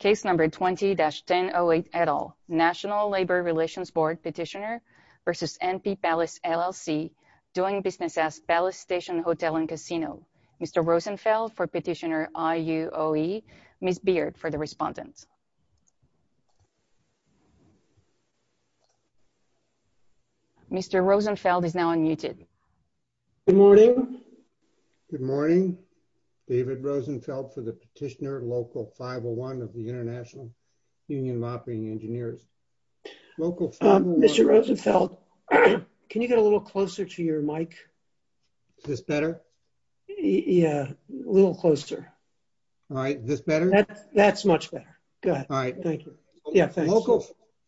Case number 20-1008 et al. National Labor Relations Board petitioner v. NP Palace LLC doing business as Palace Station Hotel and Casino. Mr. Rosenfeld for petitioner IUOE. Ms. Beard for the respondents. Mr. Rosenfeld is now unmuted. Good morning. Good morning. David Rosenfeld for the petitioner Local 501 of the International Union of Operating Engineers. Local 501. Mr. Rosenfeld, can you get a little closer to your mic? Is this better? Yeah, a little closer. All right. Is this better? That's much better. Go ahead. All right. Thank you. Yeah, thanks.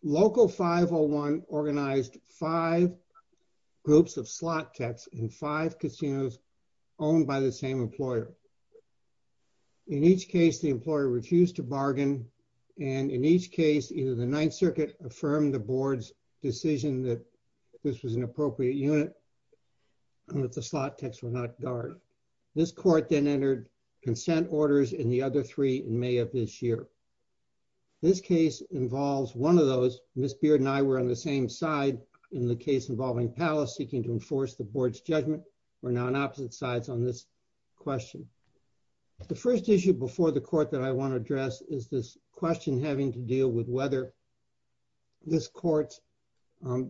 Local 501 organized five groups of slot techs in five casinos owned by the same employer. In each case, the employer refused to bargain. And in each case, either the Ninth Circuit affirmed the board's decision that this was an appropriate unit and that the slot techs were not guarded. This court then entered consent orders in the other three in May of this year. This case involves one of those. Ms. Beard and I were on the same side in the case involving Palace seeking to enforce the board's judgment. We're now on opposite sides on this question. The first issue before the court that I want to address is this question having to deal with whether this court's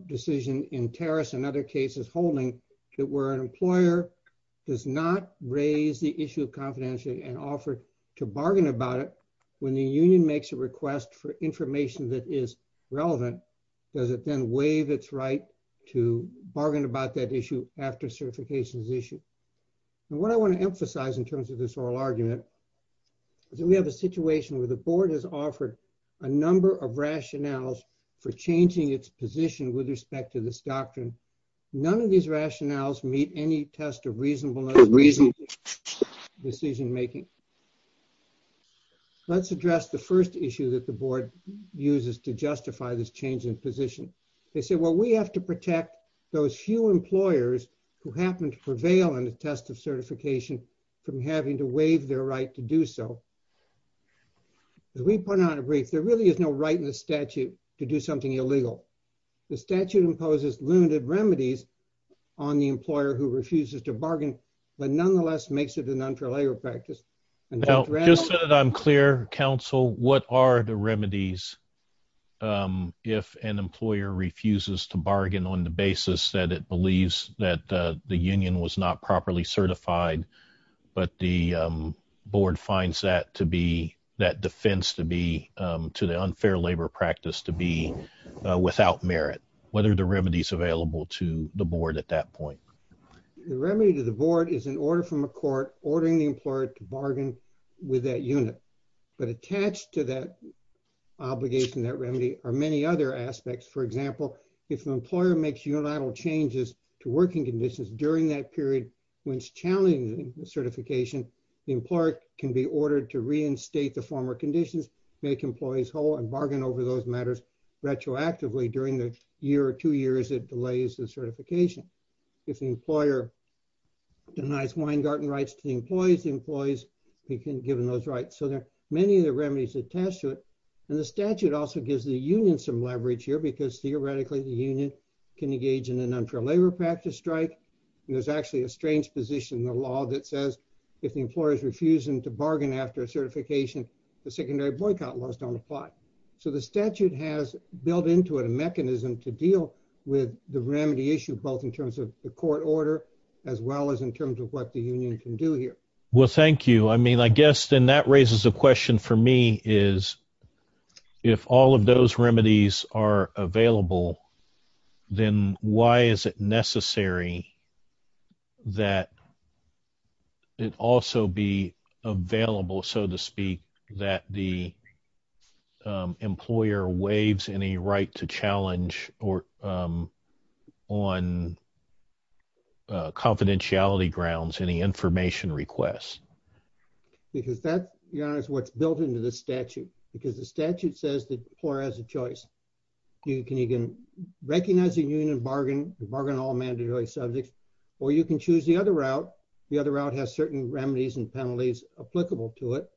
decision in Terrace and other cases holding that where an employer does not raise the issue of confidentiality and offer to bargain about it when the union makes a request for information that is relevant, does it then waive its right to bargain about that issue after certification is issued? And what I want to emphasize in terms of this oral argument is that we have a situation where the board has offered a number of rationales for changing its position with respect to this doctrine. None of these rationales meet any test of reasonableness. Reasonable decision making. Let's address the first issue that the board uses to justify this change in position. They say, well, we have to protect those few employers who happen to prevail on the test of certification from having to waive their right to do so. As we pointed out in brief, there really is no right in the statute to do something illegal. The statute imposes limited remedies on the employer who refuses to bargain, but nonetheless makes it an unfair labor practice. Just so that I'm clear, counsel, what are the remedies if an employer refuses to bargain on the basis that it believes that the union was not properly certified, but the board finds that to be, that defense to be, to the unfair labor practice to be without merit? What are the remedies available to the board at that point? The remedy to the board is an order from a court ordering the employer to bargain with that unit, but attached to that obligation, that remedy are many other aspects. For example, if an employer makes unilateral changes to working conditions during that period, when it's challenging certification, the employer can be ordered to reinstate the former conditions, make employees whole and bargain over those matters retroactively during the year or two years it delays the certification. If the employer denies Weingarten rights to the employees, the employees can be given those rights. So there are many of the remedies attached to it. And the statute also gives the union some leverage here because theoretically the union can engage in an unfair labor practice strike. And there's actually a strange position in the law that says if the employer is refusing to So the statute has built into it a mechanism to deal with the remedy issue, both in terms of the court order, as well as in terms of what the union can do here. Well, thank you. I mean, I guess then that raises a question for me is if all of those remedies are available, then why is it necessary that it also be available, so to speak, that the employer waives any right to challenge or on confidentiality grounds, any information requests? Because that is what's built into the statute, because the statute says the employer has a choice. You can recognize a union bargain, bargain all mandatory subjects, or you can choose the other route. The other route has certain remedies and penalties applicable to it.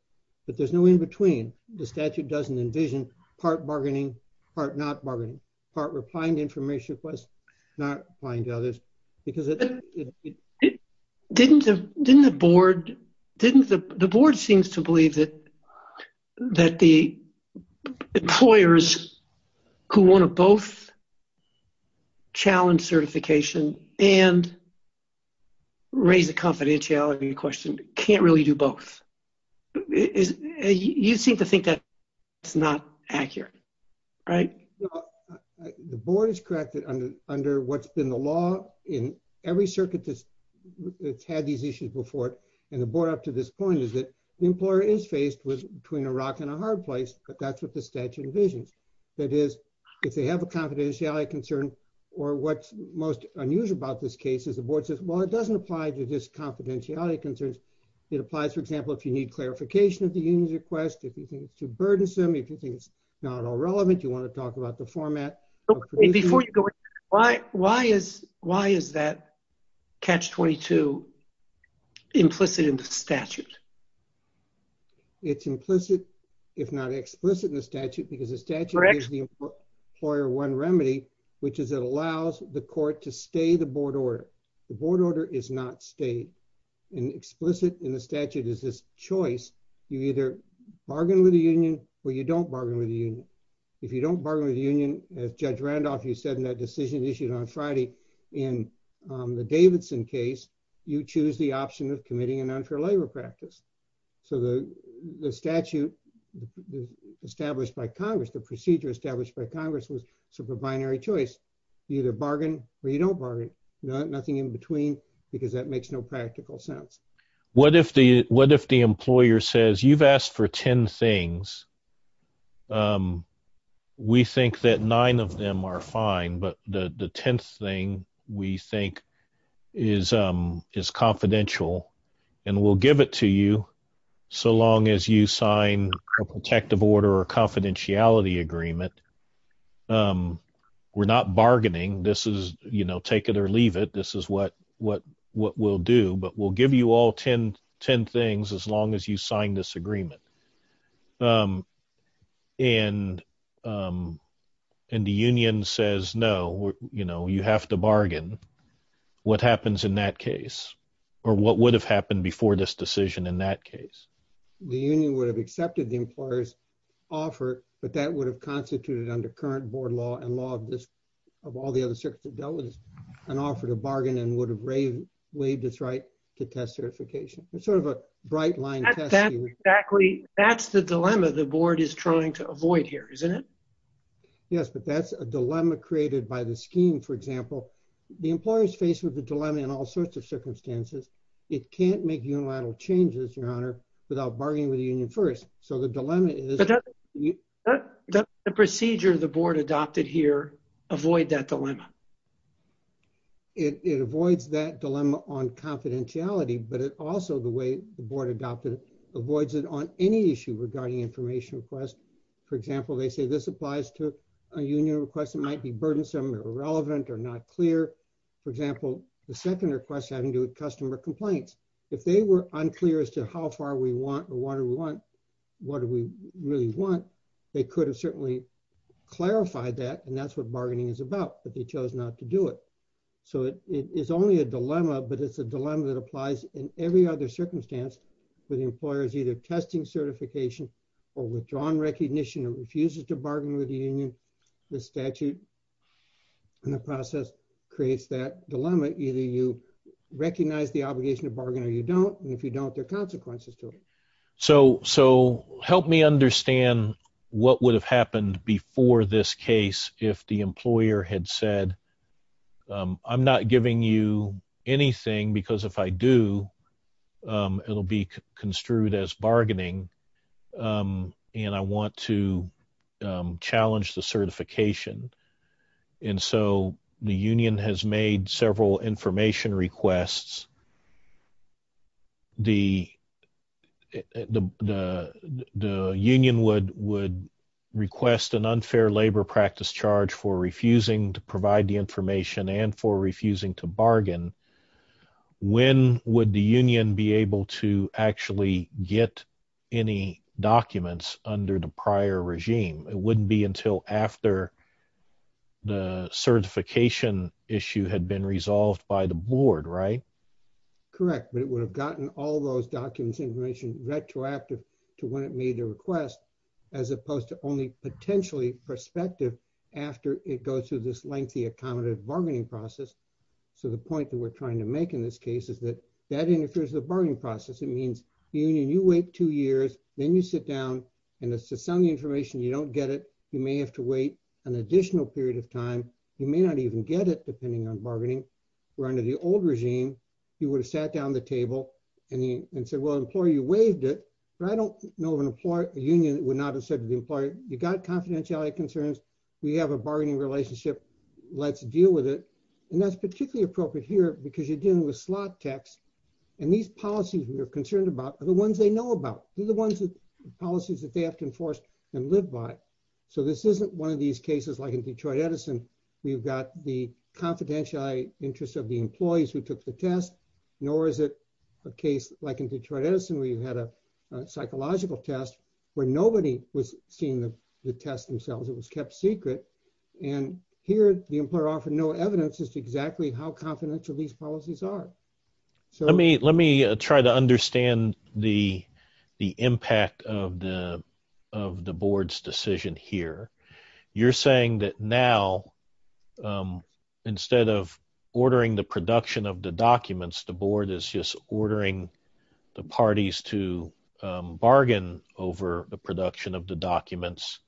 But there's no in between. The statute doesn't envision part bargaining, part not bargaining, part replying to information requests, not replying to others, because Didn't the board, didn't the board seems to believe that that the employers who want to both challenge certification and raise a confidentiality question can't really do both. You seem to think that it's not accurate, right? The board is correct that under what's been the law in every circuit that's had these issues and the board up to this point is that the employer is faced with between a rock and a hard place, but that's what the statute envisions. That is, if they have a confidentiality concern, or what's most unusual about this case is the board says, well, it doesn't apply to this confidentiality concerns. It applies, for example, if you need clarification of the union's request, if you think it's too burdensome, if you think it's not all relevant, you want to talk about the format. Before you go, why is that catch 22 implicit in the statute? It's implicit, if not explicit in the statute, because the statute is the employer one remedy, which is it allows the court to stay the board order. The board order is not stayed and explicit in the statute is this choice. You either bargain with the union or you don't bargain with the union. If you don't bargain with the union, as Judge Randolph, you said in that decision issued on Friday, in the Davidson case, you choose the option of committing an unfair labor practice. So the statute established by Congress, the procedure established by Congress was super binary choice. You either bargain or you don't bargain. Nothing in between, because that makes no practical sense. What if the employer says you've asked for 10 things we think that nine of them are fine, but the 10th thing we think is confidential and we'll give it to you so long as you sign a protective order or confidentiality agreement. We're not bargaining. This is, you know, take it or leave it. This is what we'll do, but we'll give you all 10 things as long as you sign this agreement. And the union says, no, you know, you have to bargain. What happens in that case or what would have happened before this decision in that case? The union would have accepted the employer's offer, but that would have constituted under current board law and law of this, of all the other circuits that dealt with this, an offer to bargain and would have waived its right to test certification. It's sort of a white line. Exactly. That's the dilemma the board is trying to avoid here, isn't it? Yes, but that's a dilemma created by the scheme. For example, the employer's faced with the dilemma in all sorts of circumstances. It can't make unilateral changes, your honor, without bargaining with the union first. So the dilemma is the procedure, the board adopted here, avoid that dilemma. It avoids that dilemma on confidentiality, but it also, the way the board adopted it, avoids it on any issue regarding information requests. For example, they say this applies to a union request. It might be burdensome or irrelevant or not clear. For example, the second request having to do with customer complaints. If they were unclear as to how far we want or what do we want, what do we really want? They could have certainly clarified that, that's what bargaining is about, but they chose not to do it. So it is only a dilemma, but it's a dilemma that applies in every other circumstance where the employer is either testing certification or withdrawn recognition or refuses to bargain with the union. The statute and the process creates that dilemma. Either you recognize the obligation to bargain or you don't, and if you don't, there are consequences to it. So help me understand what would have happened before this case if the employer had said, I'm not giving you anything because if I do, it'll be construed as bargaining and I want to challenge the certification. And so the union has made several information requests. The union would request an unfair labor practice charge for refusing to provide the information and for refusing to bargain. When would the union be able to actually get any documents under the prior regime? It wouldn't be until after the certification issue had been resolved by the board, right? Correct. But it would have gotten all those documents information retroactive to when it made a request as opposed to only potentially prospective after it goes through this lengthy, accommodative bargaining process. So the point that we're trying to make in this case is that that interferes with the bargaining process. It means the union, you wait two years, then you sit down and it's the same information. You don't get it. You may have to wait an additional period of time. You may not even get it depending on bargaining. We're under the old regime. You would have sat down at the table and said, well, employer, you waived it. But I don't know of an employer, a union that would not have said to the employer, you got confidentiality concerns. We have a bargaining relationship. Let's deal with it. And that's particularly appropriate here because you're dealing with slot techs and these policies we are concerned about are the ones they know about. These are the ones that policies that they have to enforce and live by. So this isn't one of these cases, like in Detroit Edison, we've got the confidentiality interests of the employees who took the test, nor is it a case like in Detroit Edison, where you had a psychological test where nobody was seeing the test themselves. It was kept secret. And here the employer offered no evidence as to exactly how confidential these policies are. Let me try to understand the impact of the board's decision here. You're saying that now instead of ordering the production of the documents, the board is just ordering the parties to bargain over the production of the documents.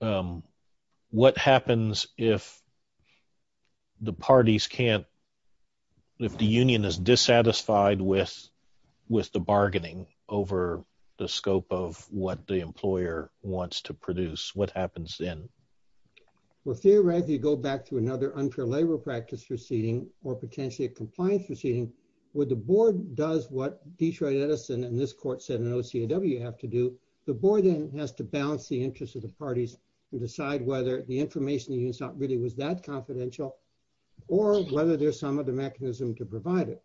What happens then? Well, theoretically, you go back to another unfair labor practice proceeding or potentially a compliance proceeding where the board does what Detroit Edison and this court said an OCAW have to do. The board then has to balance the interests of the parties and decide whether the information the union sought really was that confidential or whether there's some other mechanism to provide it.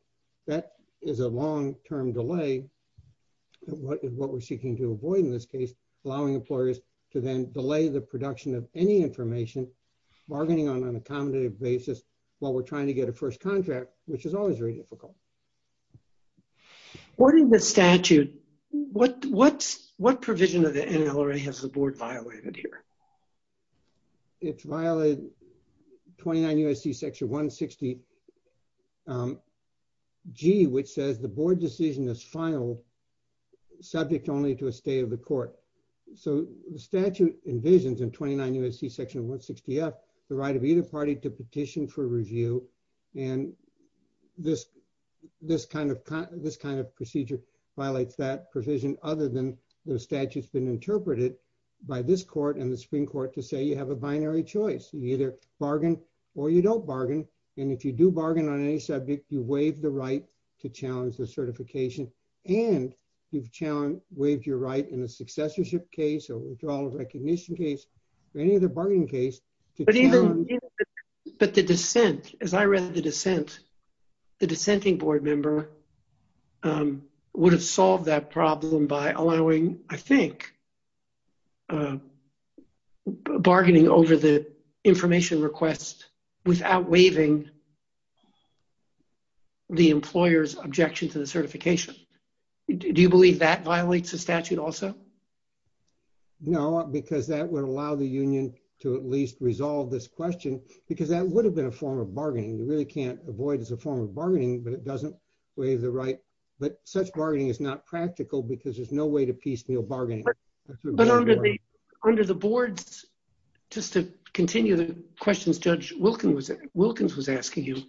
That is a long-term delay, what we're seeking to avoid in this case, allowing employers to then delay the production of any information bargaining on an accommodative basis while we're trying to get a first contract, which is always very difficult. What in the statute, what provision of the NLRA has the board violated here? It's violated 29 U.S.C. Section 160 G, which says the board decision is filed subject only to a state of the court. So the statute envisions in 29 U.S.C. Section 160 F, the right of either party to petition for review. And this kind of procedure violates that provision other than the statute has been interpreted by this court and the Supreme Court to say you have a binary choice. You either bargain or you don't bargain. And if you do bargain on any subject, you waive the right to challenge the certification and you've challenged, waived your right in a successorship case or withdrawal of recognition case or any other bargaining case. But the dissent, as I read the dissent, the dissenting board member would have solved that problem by allowing, I think, bargaining over the information request without waiving the employer's objection to the certification. Do you believe that violates the statute also? No, because that would allow the union to at least resolve this question because that would have been a form of bargaining. You really can't avoid as a form of bargaining, but it doesn't waive the right. But such bargaining is not practical because there's no way to piecemeal bargaining. But under the boards, just to continue the questions Judge Wilkins was asking you,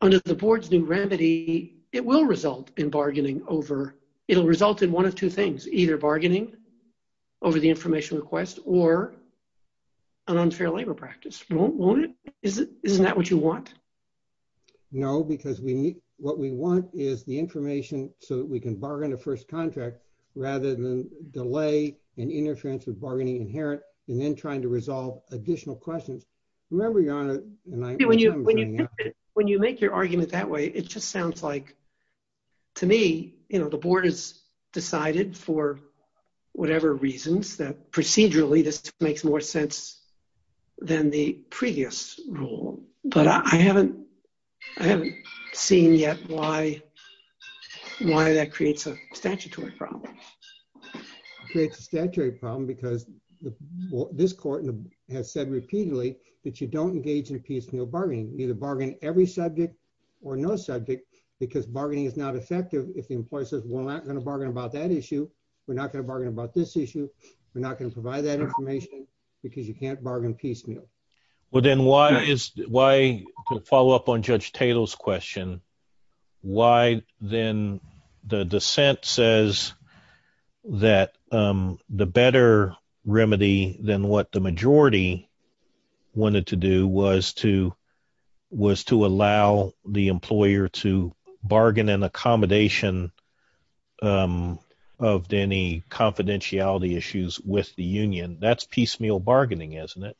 under the board's new remedy, it will result in bargaining over, it'll result in one of two things, either bargaining over the information request or an unfair labor practice. Won't it? Isn't that what you want? No, because we need, what we want is the information so that we can bargain a first contract rather than delay and interference with bargaining inherent and then trying to resolve additional questions. Remember, Your Honor, when you make your argument that way, it just sounds like to me, the board has decided for whatever reasons that procedurally this makes more sense than the previous rule. But I haven't seen yet why that creates a statutory problem. It creates a statutory problem because this court has said repeatedly that you don't engage in piecemeal bargaining. You either bargain every subject or no subject because bargaining is not effective if the employer says, we're not going to bargain about that issue. We're not going to bargain about this issue. We're not going to provide that information because you can't bargain piecemeal. Well, then why is, why, to follow up on Judge Tatel's question, why then the dissent says that the better remedy than what the majority wanted to do was to, was to allow the employer to bargain an accommodation of any confidentiality issues with the union. That's piecemeal bargaining, isn't it?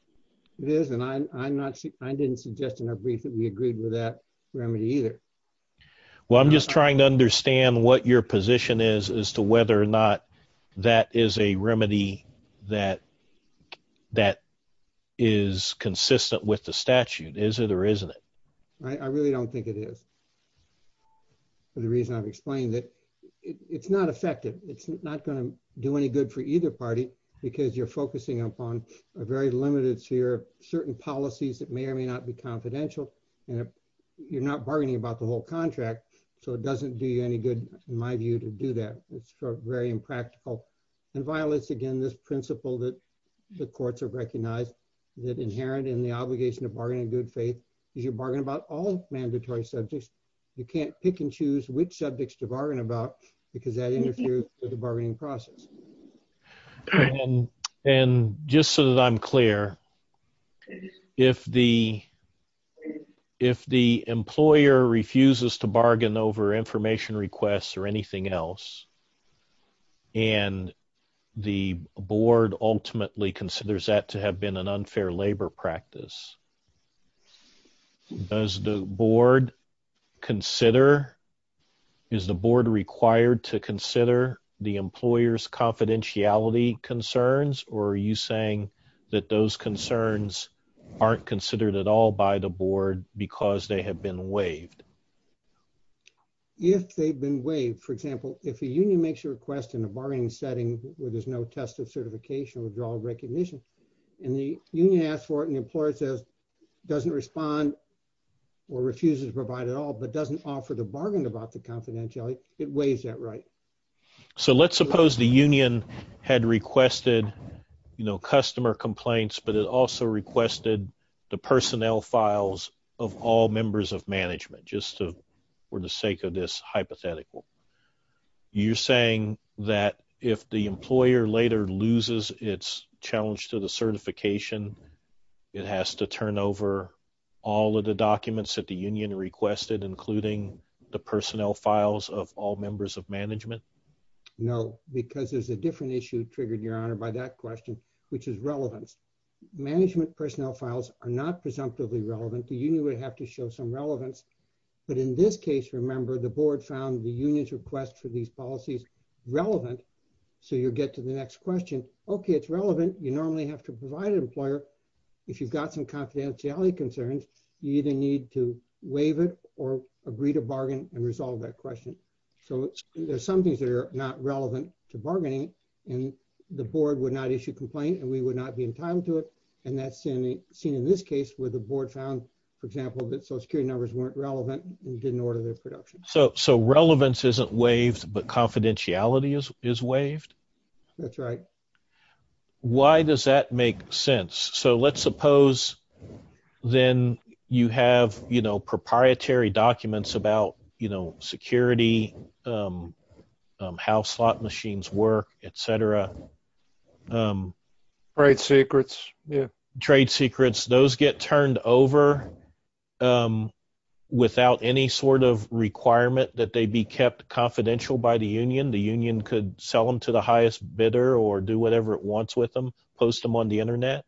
It is, and I'm not, I didn't suggest in our brief that we agreed with that remedy either. Well, I'm just trying to understand what your position is as to whether or not that is a remedy that, that is consistent with the statute. Is it or isn't it? I really don't think it is. For the reason I've explained that it's not effective. It's not going to do any good for either party because you're focusing upon a very limited sphere of certain policies that may or may not be confidential. And if you're not bargaining about the whole contract, so it doesn't do you any good in my view to do that. It's very impractical and violates again, this principle that the courts have recognized that inherent in the obligation to bargain in good faith is you bargain about all mandatory subjects. You can't pick and choose which subjects to bargain about because that interferes with the bargaining process. And just so that I'm clear, if the, if the employer refuses to bargain over information requests or anything else, and the board ultimately considers that to have been an does the board consider, is the board required to consider the employer's confidentiality concerns? Or are you saying that those concerns aren't considered at all by the board because they have been waived? If they've been waived, for example, if a union makes a request in a bargaining setting where there's no test of certification or withdrawal recognition, and the union asks for it and the employer says, doesn't respond or refuses to provide at all, but doesn't offer to bargain about the confidentiality, it weighs that right. So let's suppose the union had requested, you know, customer complaints, but it also requested the personnel files of all members of management, just to, for the sake of this hypothetical. You're saying that if the employer later loses its challenge to the certification, it has to turn over all of the documents that the union requested, including the personnel files of all members of management? No, because there's a different issue triggered, your honor, by that question, which is relevance. Management personnel files are not presumptively relevant. The union would have to show some relevance. But in this case, remember the board found the union's request for these policies relevant. So you'll get to the next question. Okay, it's relevant. You normally have to provide an employer. If you've got some confidentiality concerns, you either need to waive it or agree to bargain and resolve that question. So there's some things that are not relevant to bargaining, and the board would not issue complaint and we would not be entitled to it. And that's seen in this case where the board found, for example, that social security numbers weren't relevant and didn't order their production. So relevance isn't waived, but confidentiality is waived? That's right. Why does that make sense? So let's suppose then you have, you know, proprietary documents about, you know, security, how slot machines work, etc. Trade secrets. Trade secrets, those get turned over without any sort of requirement that they be kept confidential by the union. The union could sell them to the highest bidder or do whatever it wants with them, post them on the internet.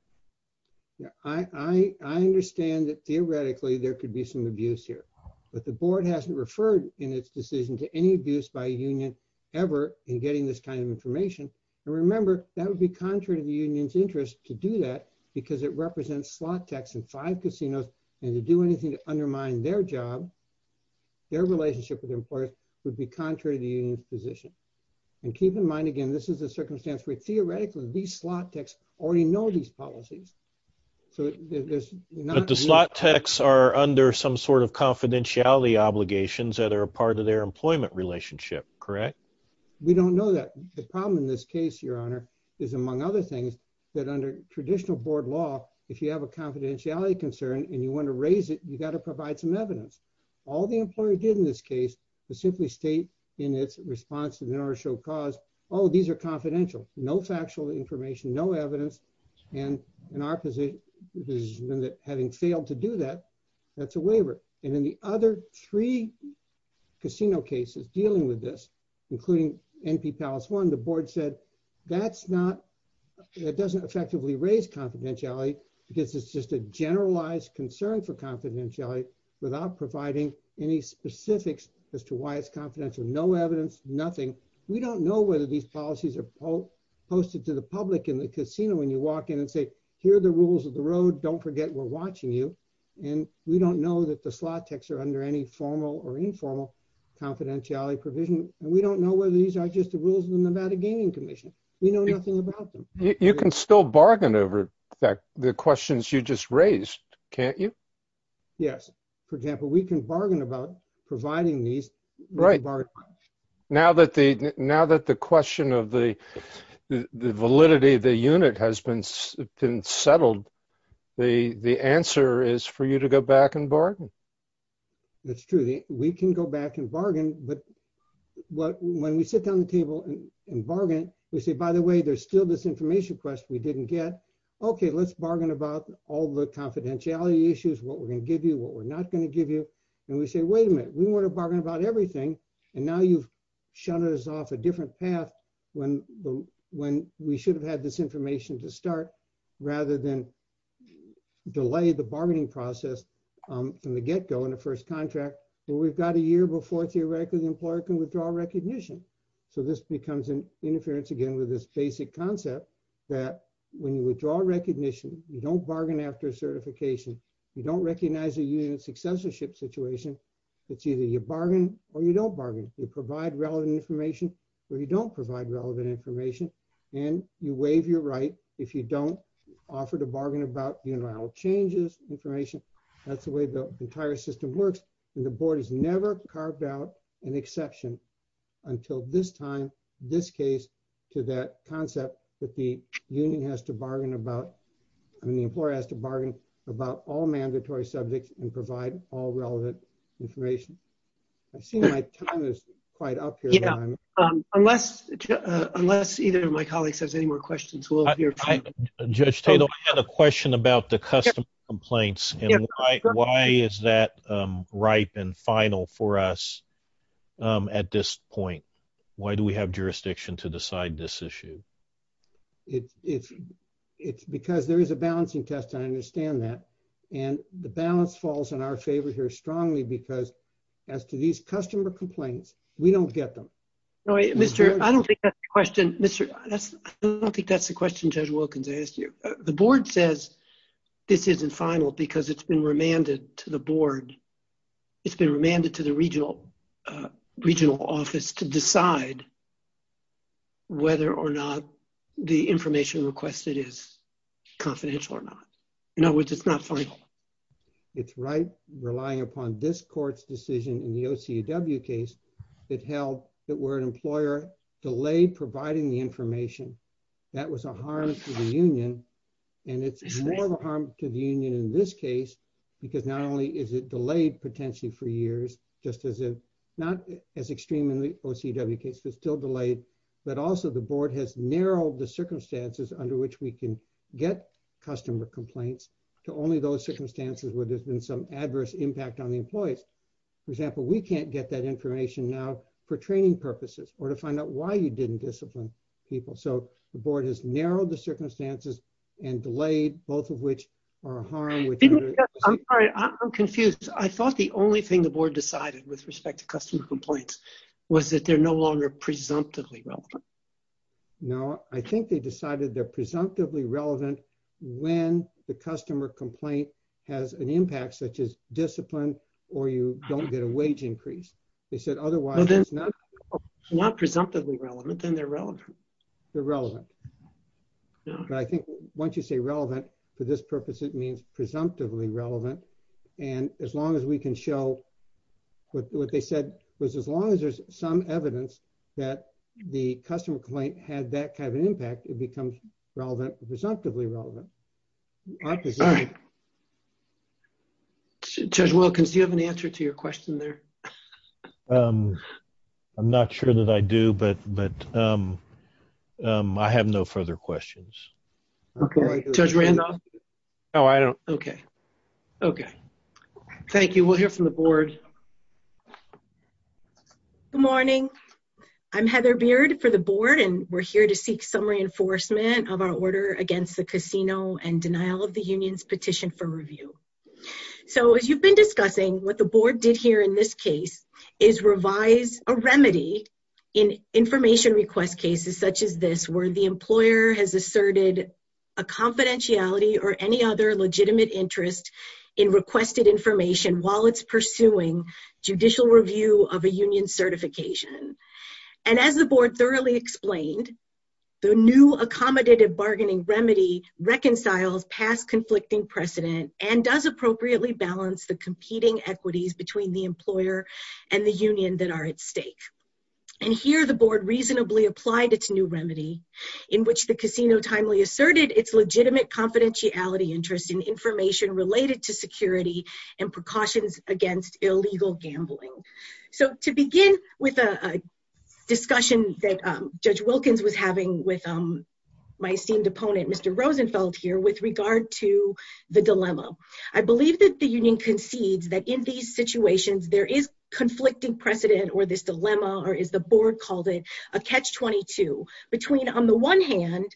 Yeah, I understand that theoretically, there could be some abuse here. But the board hasn't referred in its decision to any abuse by a union ever in getting this kind of information. And remember, that would be contrary to the union's interest to do that, because it represents slot techs in five casinos, and to do anything to undermine their job, their relationship with employers would be contrary to the union's position. And keep in mind, again, this is a circumstance where theoretically, these slot techs already know these policies. But the slot techs are under some sort of confidentiality obligations that are a part of their employment relationship, correct? We don't know that. The problem in this case, Your Honor, is among other things, that under traditional board law, if you have a confidentiality concern, and you want to raise it, you got to provide some evidence. All the employer did in this case, to simply state in its response in order to show cause, oh, these are confidential, no factual information, no evidence. And in our position, having failed to do that, that's a waiver. And then the other three casino cases dealing with this, including NP Palace One, the board said, that doesn't effectively raise confidentiality, because it's just a generalized concern for confidentiality without providing any specifics as to why it's confidential. No evidence, nothing. We don't know whether these policies are posted to the public in the casino when you walk in and say, here are the rules of the road, don't forget we're watching you. And we don't know that the slot techs are under any formal or informal confidentiality provision. We don't know whether these are just the rules of the Nevada Gaming Commission. We know nothing about them. You can still bargain over the questions you just raised, can't you? Yes. For example, we can bargain about providing these. Right. Now that the question of the validity of the unit has been settled, the answer is for you to go back and bargain. That's true. We can go back and bargain. But when we sit down at the table and bargain, we say, by the way, there's still this information question we didn't get. Okay, let's bargain about all the confidentiality issues, what we're going to give you, what we're not going to give you. And we say, wait a minute, we want to bargain about everything. And now you've shut us off a different path when we should have had this information to start, rather than delay the bargaining process from the get-go in the first contract. But we've got a year before, theoretically, the employer can withdraw recognition. So this becomes an interference, again, with this basic concept that when you withdraw recognition, you don't bargain after certification, you don't recognize a unit successorship situation. It's either you bargain or you don't bargain. You provide relevant information, or you don't provide relevant information. And you waive your right if you don't offer to bargain about unilateral changes, information. That's the way the entire system works. And the board has never carved out an exception until this time, this case, to that concept that the union has to bargain about, I mean, the employer has to bargain about all mandatory subjects and provide all unless either of my colleagues has any more questions. Judge Tatum, I had a question about the customer complaints. And why is that ripe and final for us at this point? Why do we have jurisdiction to decide this issue? It's because there is a balancing test. I understand that. And the balance falls in our favor here strongly because as to these customer complaints, we don't get them. Mr. I don't think that's the question. I don't think that's the question Judge Wilkins asked you. The board says this isn't final because it's been remanded to the board. It's been remanded to the regional office to decide whether or not the information requested is confidential or not. In other words, it's not final. It's ripe, relying upon this court's decision in the OCW case that held that were an employer delayed providing the information. That was a harm to the union. And it's more of a harm to the union in this case, because not only is it delayed potentially for years, just as not as extreme in the OCW case, but still delayed, but also the board has narrowed the circumstances under which we can get customer complaints to only those circumstances where there's been some adverse impact on the employees. For example, we can't get that information now for training purposes or to find out why you didn't discipline people. So the board has narrowed the circumstances and delayed both of which are a harm. I'm sorry, I'm confused. I thought the only thing the board decided with respect to customer complaints was that they're no longer presumptively relevant. No, I think they decided they're presumptively relevant when the customer complaint has an impact such as discipline, or you don't get a wage increase. They said otherwise. Not presumptively relevant, then they're relevant. They're relevant. But I think once you say relevant, for this purpose, it means presumptively relevant. And as long as we can show what they said was as long as there's some evidence that the customer complaint had that kind of an impact, it becomes relevant, presumptively relevant. Judge Wilkins, do you have an answer to your question there? I'm not sure that I do, but I have no further questions. Judge Randolph? No, I don't. Okay. Okay. Thank you. We'll hear from the board. Good morning. I'm Heather Beard for the board, and we're here to seek some reinforcement of our order against the casino and denial of the union's petition for review. So as you've been discussing, what the board did here in this case is revise a remedy in information request cases such as this, where the employer has asserted a confidentiality or any other legitimate interest in requested information while it's pursuing judicial review of a union certification. And as the board thoroughly explained, the new accommodative bargaining remedy reconciles past conflicting precedent and does appropriately balance the competing equities between the employer and the union that are at stake. And here the board reasonably applied its new remedy in which the casino timely asserted its legitimate confidentiality interest in information related to security and precautions against illegal gambling. So to begin with a discussion that Judge Wilkins was having with my esteemed opponent, Mr. Rosenfeld here, with regard to the dilemma, I believe that the union concedes that in these situations, there is conflicting precedent or this dilemma, or as the board called it, a catch-22 between on the one hand,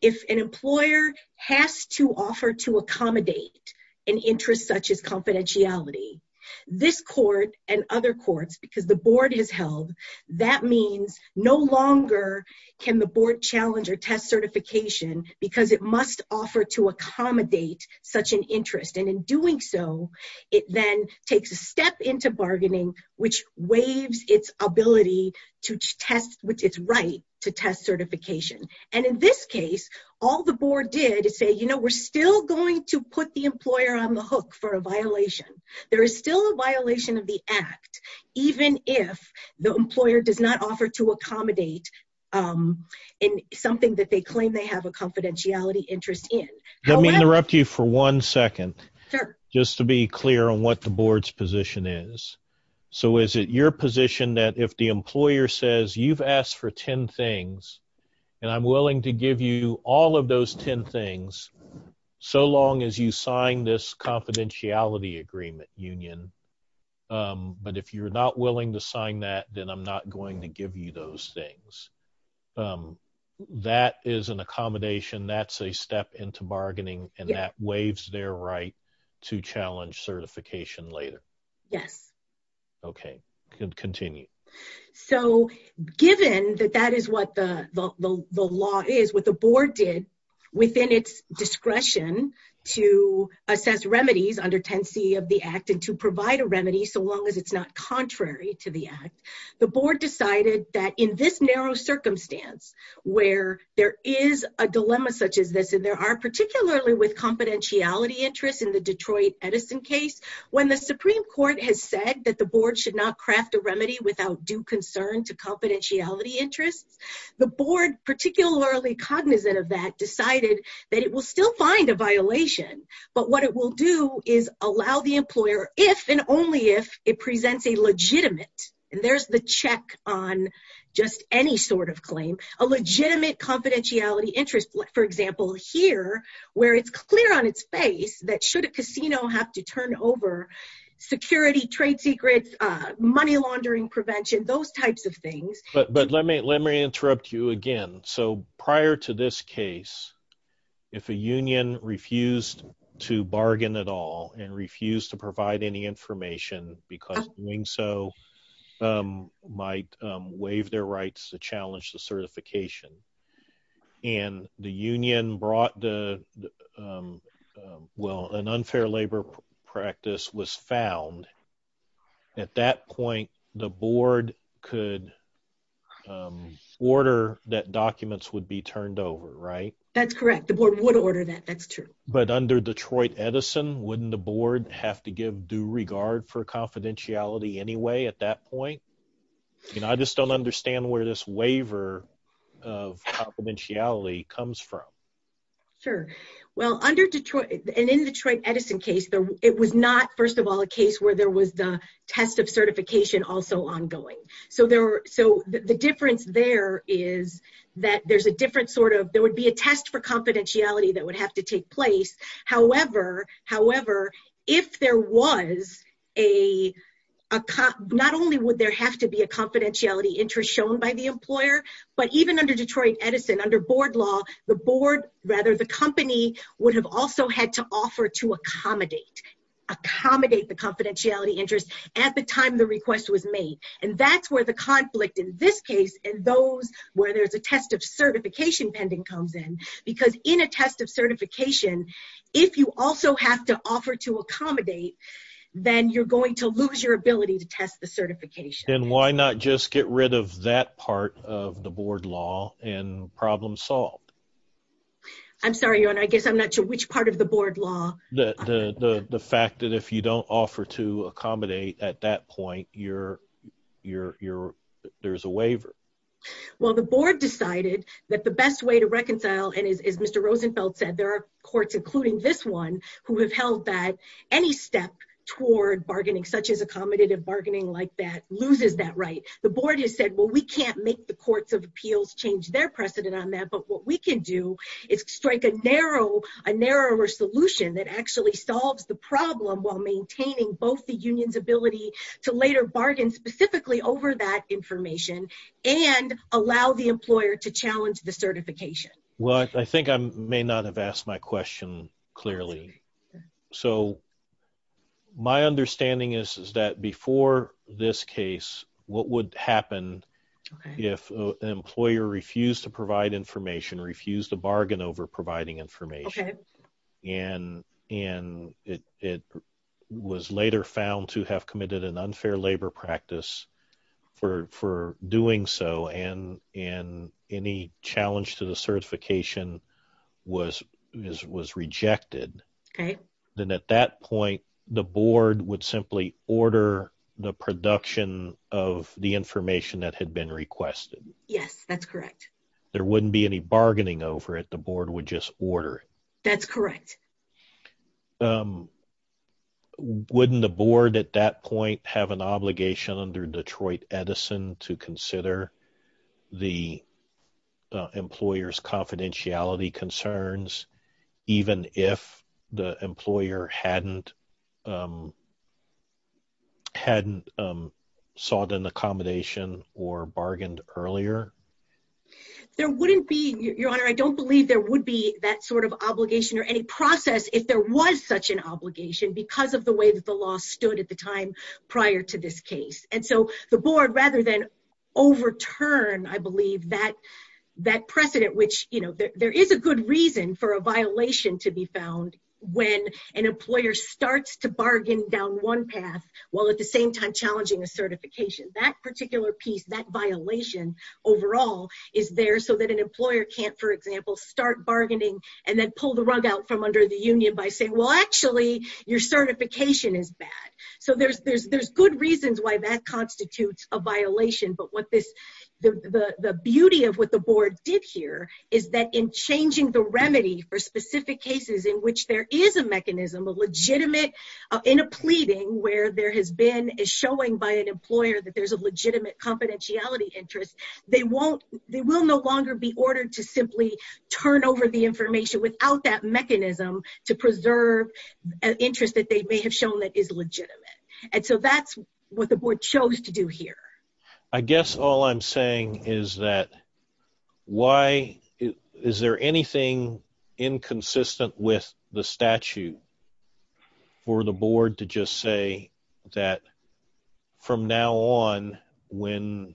if an employer has to offer to accommodate an interest such as confidentiality, this court and other courts, because the board has held, that means no longer can the board challenge or test certification because it must offer to accommodate such an interest. And in doing so, it then takes a step into bargaining, which waives its ability to test with its right to test certification. And in this case, all the board did is say, you know, we're still going to put the employer on the hook for a violation. There is still a violation of the act, even if the employer does not offer to accommodate in something that they claim they have a confidentiality interest in. Let me interrupt you for one second, just to be clear on what the board's position is. So is it your position that if the employer says you've asked for 10 things, and I'm willing to give you all of those 10 things, so long as you sign this confidentiality agreement union, but if you're not willing to sign that, then I'm not going to give you those things. That is an accommodation, that's a step into bargaining, and that waives their right to challenge certification later? Yes. Okay, continue. So given that that is what the law is, what the board did within its discretion to assess remedies under 10c of the act and to provide a remedy, so long as it's not contrary to the act, the board decided that in this narrow in the Detroit Edison case, when the Supreme Court has said that the board should not craft a remedy without due concern to confidentiality interests, the board, particularly cognizant of that, decided that it will still find a violation, but what it will do is allow the employer if and only if it presents a legitimate, and there's the check on just any sort of claim, a legitimate that should a casino have to turn over security, trade secrets, money laundering prevention, those types of things. But let me let me interrupt you again. So prior to this case, if a union refused to bargain at all and refused to provide any information because doing so might waive their rights to challenge the certification, and the union brought the well, an unfair labor practice was found, at that point, the board could order that documents would be turned over, right? That's correct. The board would order that. That's true. But under Detroit Edison, wouldn't the board have to give due regard for confidentiality anyway at that point? You know, I just don't understand where this waiver of confidentiality comes from. Sure. Well, under Detroit, and in Detroit Edison case, it was not, first of all, a case where there was the test of certification also ongoing. So the difference there is that there's a different sort of, there would be a test for confidentiality that would have to take place. However, if there was a, not only would there have to be a confidentiality interest shown by the employer, but even under Detroit Edison, under board law, the board, rather, the company would have also had to offer to accommodate, accommodate the confidentiality interest at the time the request was made. And that's where the conflict in this case and those where there's a test of certification pending comes in. Because in a test of certification, if you also have to offer to accommodate, then you're going to lose your ability to test the certification. And why not just get rid of that part of the board law and problem solved? I'm sorry, your honor, I guess I'm not sure which part of the board law. The fact that if you don't offer to accommodate at that point, there's a waiver. Well, the board decided that the best way to reconcile, and as Mr. Rosenfeld said, there are courts, including this one, who have held that any step toward bargaining, such as accommodative bargaining like that, loses that right. The board has said, well, we can't make the courts of appeals change their precedent on that. But what we can do is strike a narrow, a narrower solution that actually solves the problem while maintaining both the union's ability to later bargain specifically over that information and allow the employer to challenge the certification. Well, I think I may not have asked my question clearly. So my understanding is that before this case, what would happen if an employer refused to provide information, refused to bargain over providing information, and it was later found to have committed an unfair labor practice for doing so, and any challenge to the certification was rejected? Okay. Then at that point, the board would simply order the production of the information that had been requested. Yes, that's correct. There wouldn't be any bargaining over it. The board would just order. That's correct. Wouldn't the board at that point have an obligation under Detroit Edison to consider the employer's confidentiality concerns, even if the employer hadn't sought an accommodation or bargained earlier? There wouldn't be, Your Honor. I don't believe there would be that sort of obligation or any process if there was such an obligation because of the way that the law stood at the time prior to this case. And so the board, rather than overturn, I believe, that precedent, which, you know, there is a good reason for a violation to be found when an employer starts to bargain down one path while at the same time challenging a certification. That particular piece, that is there so that an employer can't, for example, start bargaining and then pull the rug out from under the union by saying, well, actually, your certification is bad. So there's good reasons why that constitutes a violation. But the beauty of what the board did here is that in changing the remedy for specific cases in which there is a mechanism, a legitimate, in a pleading where there has been a showing by an employer that there's a legitimate confidentiality interest, they won't, they will no longer be ordered to simply turn over the information without that mechanism to preserve an interest that they may have shown that is legitimate. And so that's what the board chose to do here. I guess all I'm saying is that why, is there anything inconsistent with the statute for the board to just say that from now on when,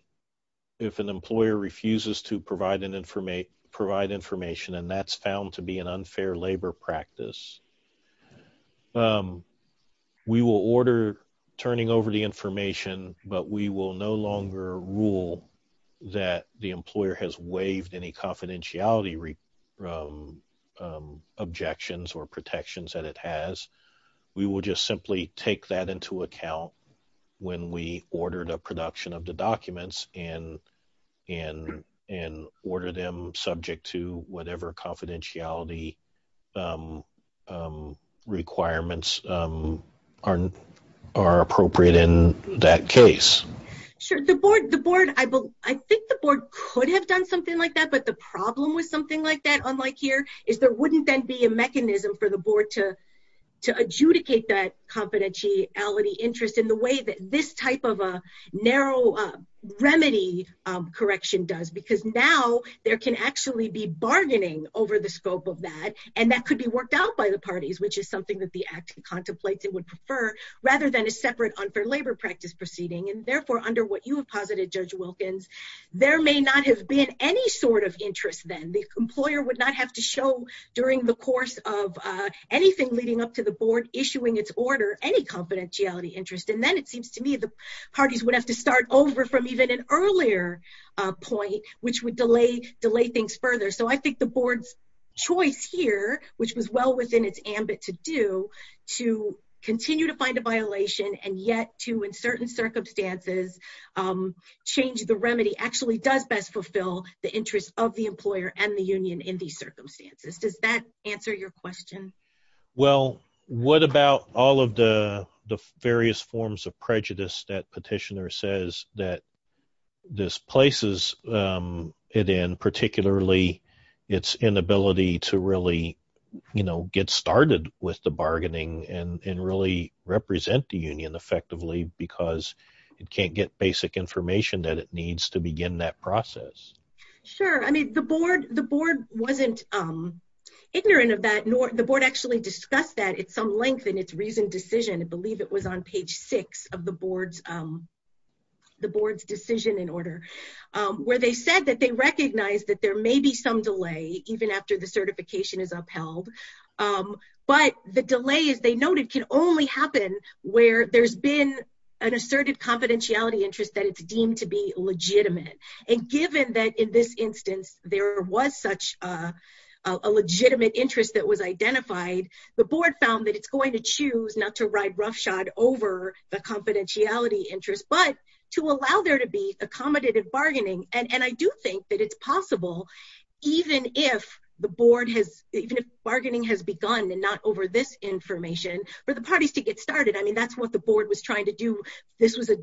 if an employer refuses to provide information, and that's found to be an unfair labor practice, we will order turning over the information, but we will no longer rule that the employer has waived any confidentiality objections or protections that it has. We will just simply take that into account when we order the production of the documents and order them subject to whatever confidentiality requirements are appropriate in that case. Sure. The board, I think the board could have done something like that, but the problem with something like that, unlike here, is there wouldn't then be a mechanism for the board to adjudicate that confidentiality interest in the way that this type of a narrow remedy correction does, because now there can actually be bargaining over the scope of that, and that could be worked out by the parties, which is something that the act contemplates would prefer, rather than a separate unfair labor practice proceeding. Therefore, under what you have posited, Judge Wilkins, there may not have been any sort of interest then. The employer would not have to show during the course of anything leading up to the board issuing its order any confidentiality interest. Then it seems to me the parties would have to start over from even an earlier point, which would delay things further. I think the board's choice here, which was well in its ambit to do, to continue to find a violation and yet to, in certain circumstances, change the remedy, actually does best fulfill the interest of the employer and the union in these circumstances. Does that answer your question? Well, what about all of the various forms of prejudice that petitioner says that this places it in, particularly its inability to really get started with the bargaining and really represent the union effectively because it can't get basic information that it needs to begin that process? Sure. I mean, the board wasn't ignorant of that, nor the board actually discussed that at some length in its recent decision. I believe it was on page six of the board's decision and order, where they said they recognized that there may be some delay even after the certification is upheld, but the delay, as they noted, can only happen where there's been an asserted confidentiality interest that it's deemed to be legitimate. Given that in this instance, there was such a legitimate interest that was identified, the board found that it's going to choose not to ride roughshod over the that it's possible, even if the board has, even if bargaining has begun and not over this information for the parties to get started. I mean, that's what the board was trying to do. This was a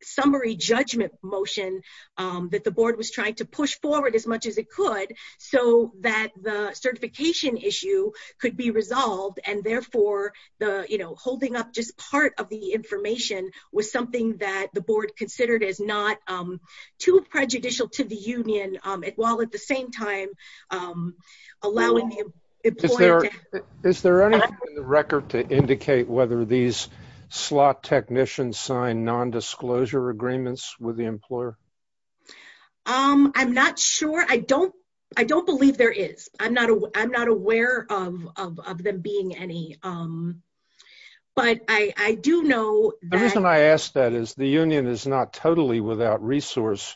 summary judgment motion that the board was trying to push forward as much as it could so that the certification issue could be resolved and therefore the, you know, holding up just part of the information was something that the board considered as not too prejudicial to the union, while at the same time allowing the employer... Is there anything in the record to indicate whether these slot technicians signed non-disclosure agreements with the employer? I'm not sure. I don't believe there is. I'm not aware of them being any, but I do know... The reason I ask that is the union is not totally without resource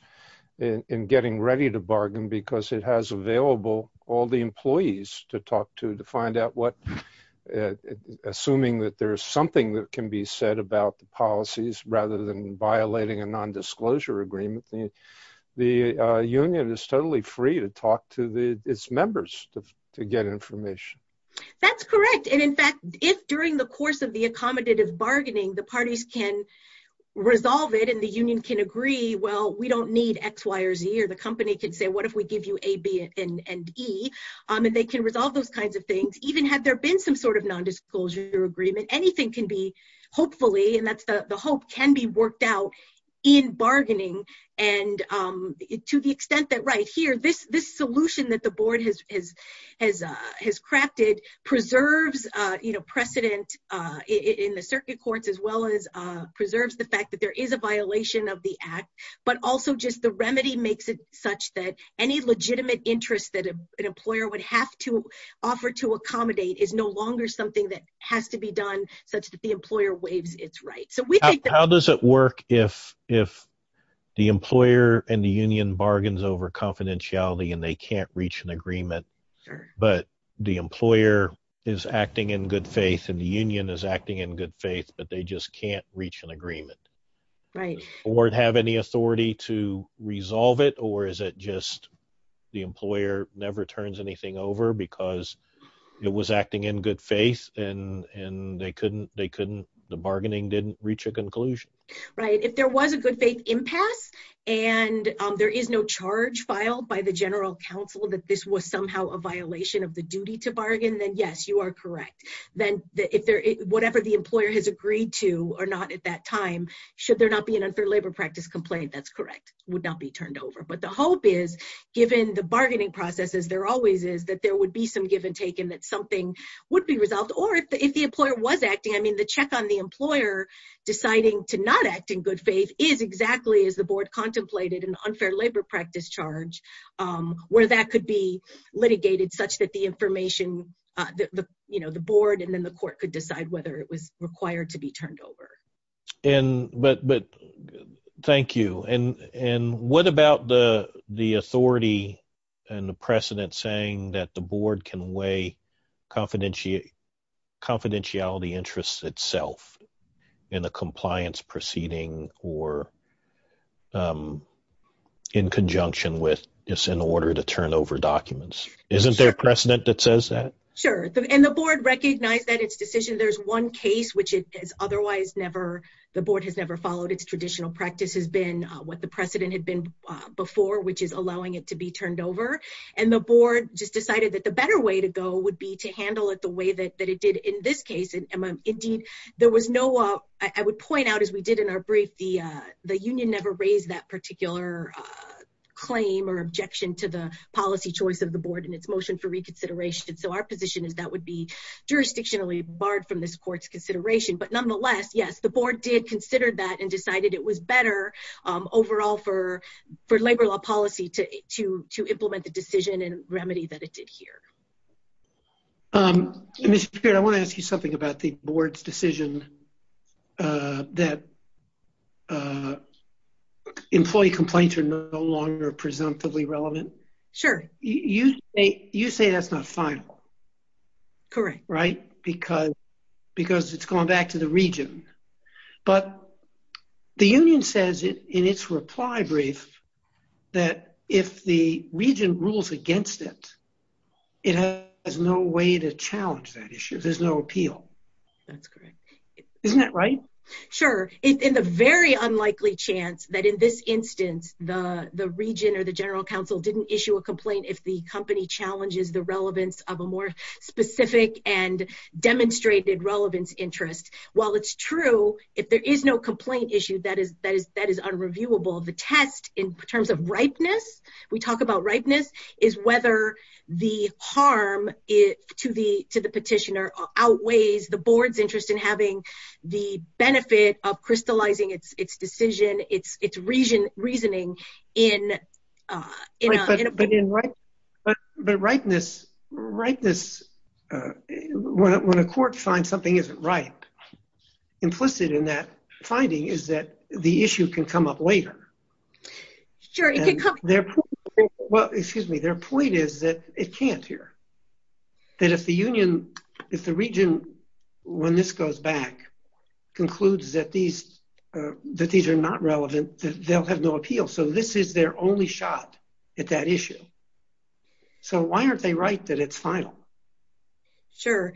in getting ready to bargain because it has available all the employees to talk to, to find out what, assuming that there's something that can be said about the policies rather than violating a non-disclosure agreement. The union is totally free to talk to its members to get information. That's correct. And in fact, if during the course of the accommodative bargaining, the parties can resolve it and the union can agree, well, we don't need X, Y, or Z, or the company can say, what if we give you A, B, and E? And they can resolve those kinds of things. Even had there been some sort of non-disclosure agreement, anything can be, hopefully, and that's the hope, can be worked out in bargaining. And to the extent that right here, this solution that the board has crafted preserves precedent in the circuit courts as well as preserves the fact that there is a violation of the act, but also just the remedy makes it such that any legitimate interest that an employer would have to offer to accommodate is no longer something that has to be done such that the employer waives its rights. How does it work if the employer and the union bargains over is acting in good faith, but they just can't reach an agreement? Right. Or have any authority to resolve it, or is it just the employer never turns anything over because it was acting in good faith and the bargaining didn't reach a conclusion? Right. If there was a good faith impasse and there is no charge filed by the general counsel that this was somehow a violation of the duty to bargain, then yes, you are correct. Then whatever the employer has agreed to or not at that time, should there not be an unfair labor practice complaint, that's correct, would not be turned over. But the hope is, given the bargaining processes, there always is, that there would be some give and take and that something would be resolved. Or if the employer was acting, the check on the employer deciding to not act in good faith is exactly as the board contemplated an unfair labor practice charge, where that could be litigated such that the information, you know, the board and then the court could decide whether it was required to be turned over. But thank you. And what about the authority and the precedent saying that the board can weigh confidentiality interests itself in the compliance proceeding or in conjunction with this in order to turn over documents? Isn't there a precedent that says that? Sure. And the board recognized that its decision, there's one case which it has otherwise never, the board has never followed its traditional practice has been what the precedent had been before, which is allowing it to be turned over. And the board just decided that the better way to go would be to handle it the way that it did in this case. Indeed, there was no, I would point out, as we did in our brief, the union never raised that particular claim or objection to the policy choice of the board in its motion for reconsideration. So our position is that would be jurisdictionally barred from this court's consideration. But nonetheless, yes, the board did consider that and decided it was better overall for labor law policy to implement the Mr. Peart, I want to ask you something about the board's decision that employee complaints are no longer presumptively relevant. Sure. You say that's not final. Correct. Right? Because it's going back to the region. But the union says in its reply brief, that if the region rules against it, it has no way to challenge that issue. There's no appeal. That's correct. Isn't that right? Sure. It's a very unlikely chance that in this instance, the region or the general counsel didn't issue a complaint if the company challenges the relevance of a more specific and demonstrated relevance interest. While it's true, if there is no complaint issue, that is unreviewable. The test in terms of ripeness, we talk about ripeness, is whether the harm to the petitioner outweighs the board's interest in having the benefit of crystallizing its decision, its reasoning. But ripeness, when a court finds something isn't right, implicit in that finding is that the issue can come up later. Sure, it can come. Well, excuse me. Their point is that it can't here. That if the region, when this goes back, concludes that these are not relevant, they'll have no appeal. So this is their only shot at that issue. So why aren't they right that it's final? Sure.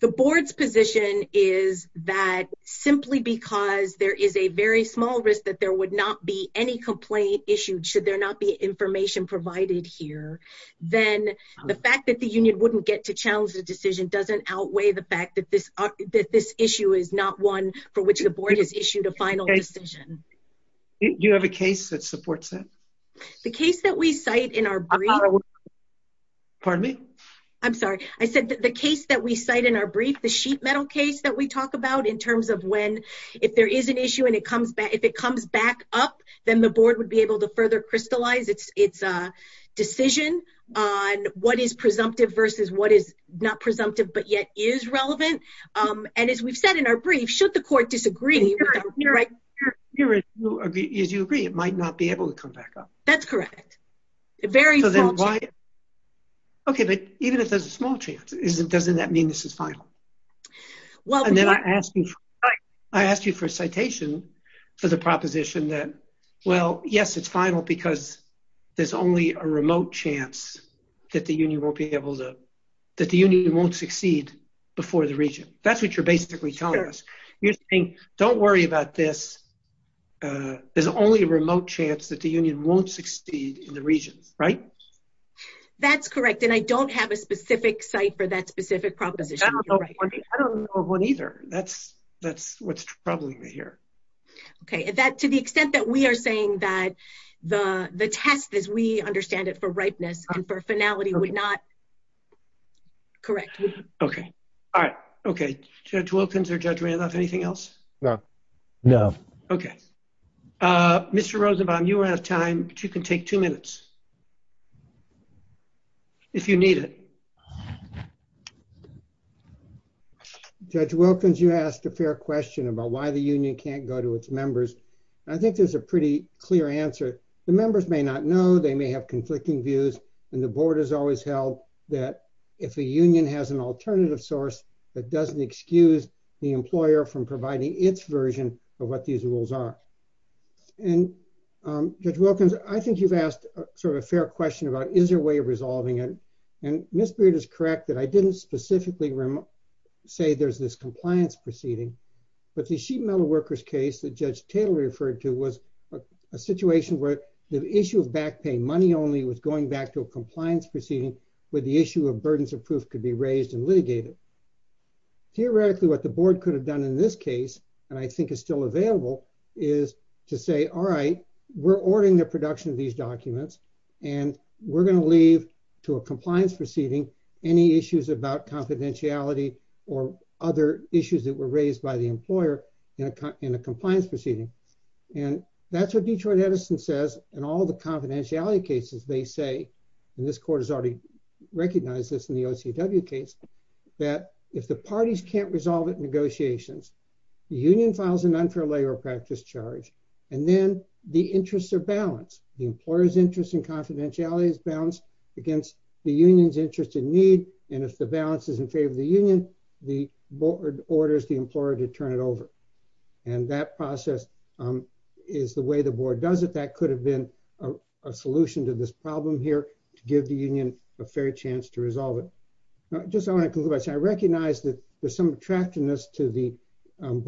The board's position is that simply because there is a very small risk that there would not be any complaint issued, should there not be information provided here, then the fact that the union wouldn't get to challenge the decision doesn't outweigh the fact that this issue is not one for which the board has issued a final decision. Do you have a case that supports that? The case that we cite in our brief. Pardon me? I'm sorry. I said the case that we cite in our brief, the sheet metal case that we talk about, in terms of when, if there is an issue and it comes back, if it comes back up, then the board would be able to further crystallize its decision on what is presumptive versus what is not presumptive but yet is relevant. And as we've said in our brief, should the court disagree? As you agree, it might not be able to come back up. That's correct. Very small chance. Okay. But even if there's a small chance, doesn't that mean this is final? And then I asked you for a citation for the proposition that, well, yes, it's final because there's only a remote chance that the union won't succeed before the region. That's what you're basically telling us. You're saying, don't worry about this. There's only a remote chance that the union won't succeed in the region, right? That's correct. And I don't have a specific site for that specific proposition. I don't know of one either. That's what's troubling me here. Okay. To the extent that we are saying that the test as we understand it for ripeness and for finality would not... Correct. Okay. All right. Okay. Judge Wilkins or Judge Randolph, anything else? No. No. Okay. Mr. Rosenbaum, you are out of time, but you can take two minutes if you need it. Okay. Judge Wilkins, you asked a fair question about why the union can't go to its members. I think there's a pretty clear answer. The members may not know, they may have conflicting views, and the board has always held that if a union has an alternative source, that doesn't excuse the employer from providing its version of what these rules are. And Judge Wilkins, I think you've asked sort of a fair question about, is there a way of resolving it? And Ms. Beard is correct that I didn't specifically say there's this compliance proceeding, but the sheet metal workers case that Judge Taylor referred to was a situation where the issue of backpaying money only was going back to a compliance proceeding, where the issue of burdens of proof could be raised and litigated. Theoretically, what the board could have done in this case, and I think is still available, is to say, all right, we're ordering the production of these documents, and we're going to leave to a compliance proceeding any issues about confidentiality or other issues that were raised by the employer in a compliance proceeding. And that's what Detroit Edison says in all the confidentiality cases they say, and this court has already recognized this in the OCW case, that if the parties can't resolve it in negotiations, the union files an unfair labor practice charge, and then the interests are balanced. The employer's interest in confidentiality is balanced against the union's interest in need, and if the balance is in favor of the union, the board orders the employer to turn it over. And that process is the way the board does it. That could have been a solution to this problem here to give the union a fair chance to resolve it. Just I want to conclude by saying I recognize that there's some attractiveness to the but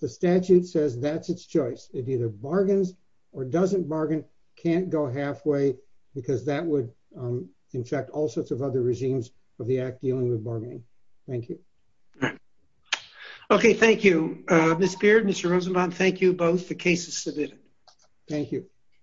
the statute says that's its choice. It either bargains or doesn't bargain, can't go halfway, because that would infect all sorts of other regimes of the act dealing with bargaining. Thank you. All right. Okay, thank you, Ms. Beard, Mr. Rosenbaum. Thank you both. The case is submitted. Thank you.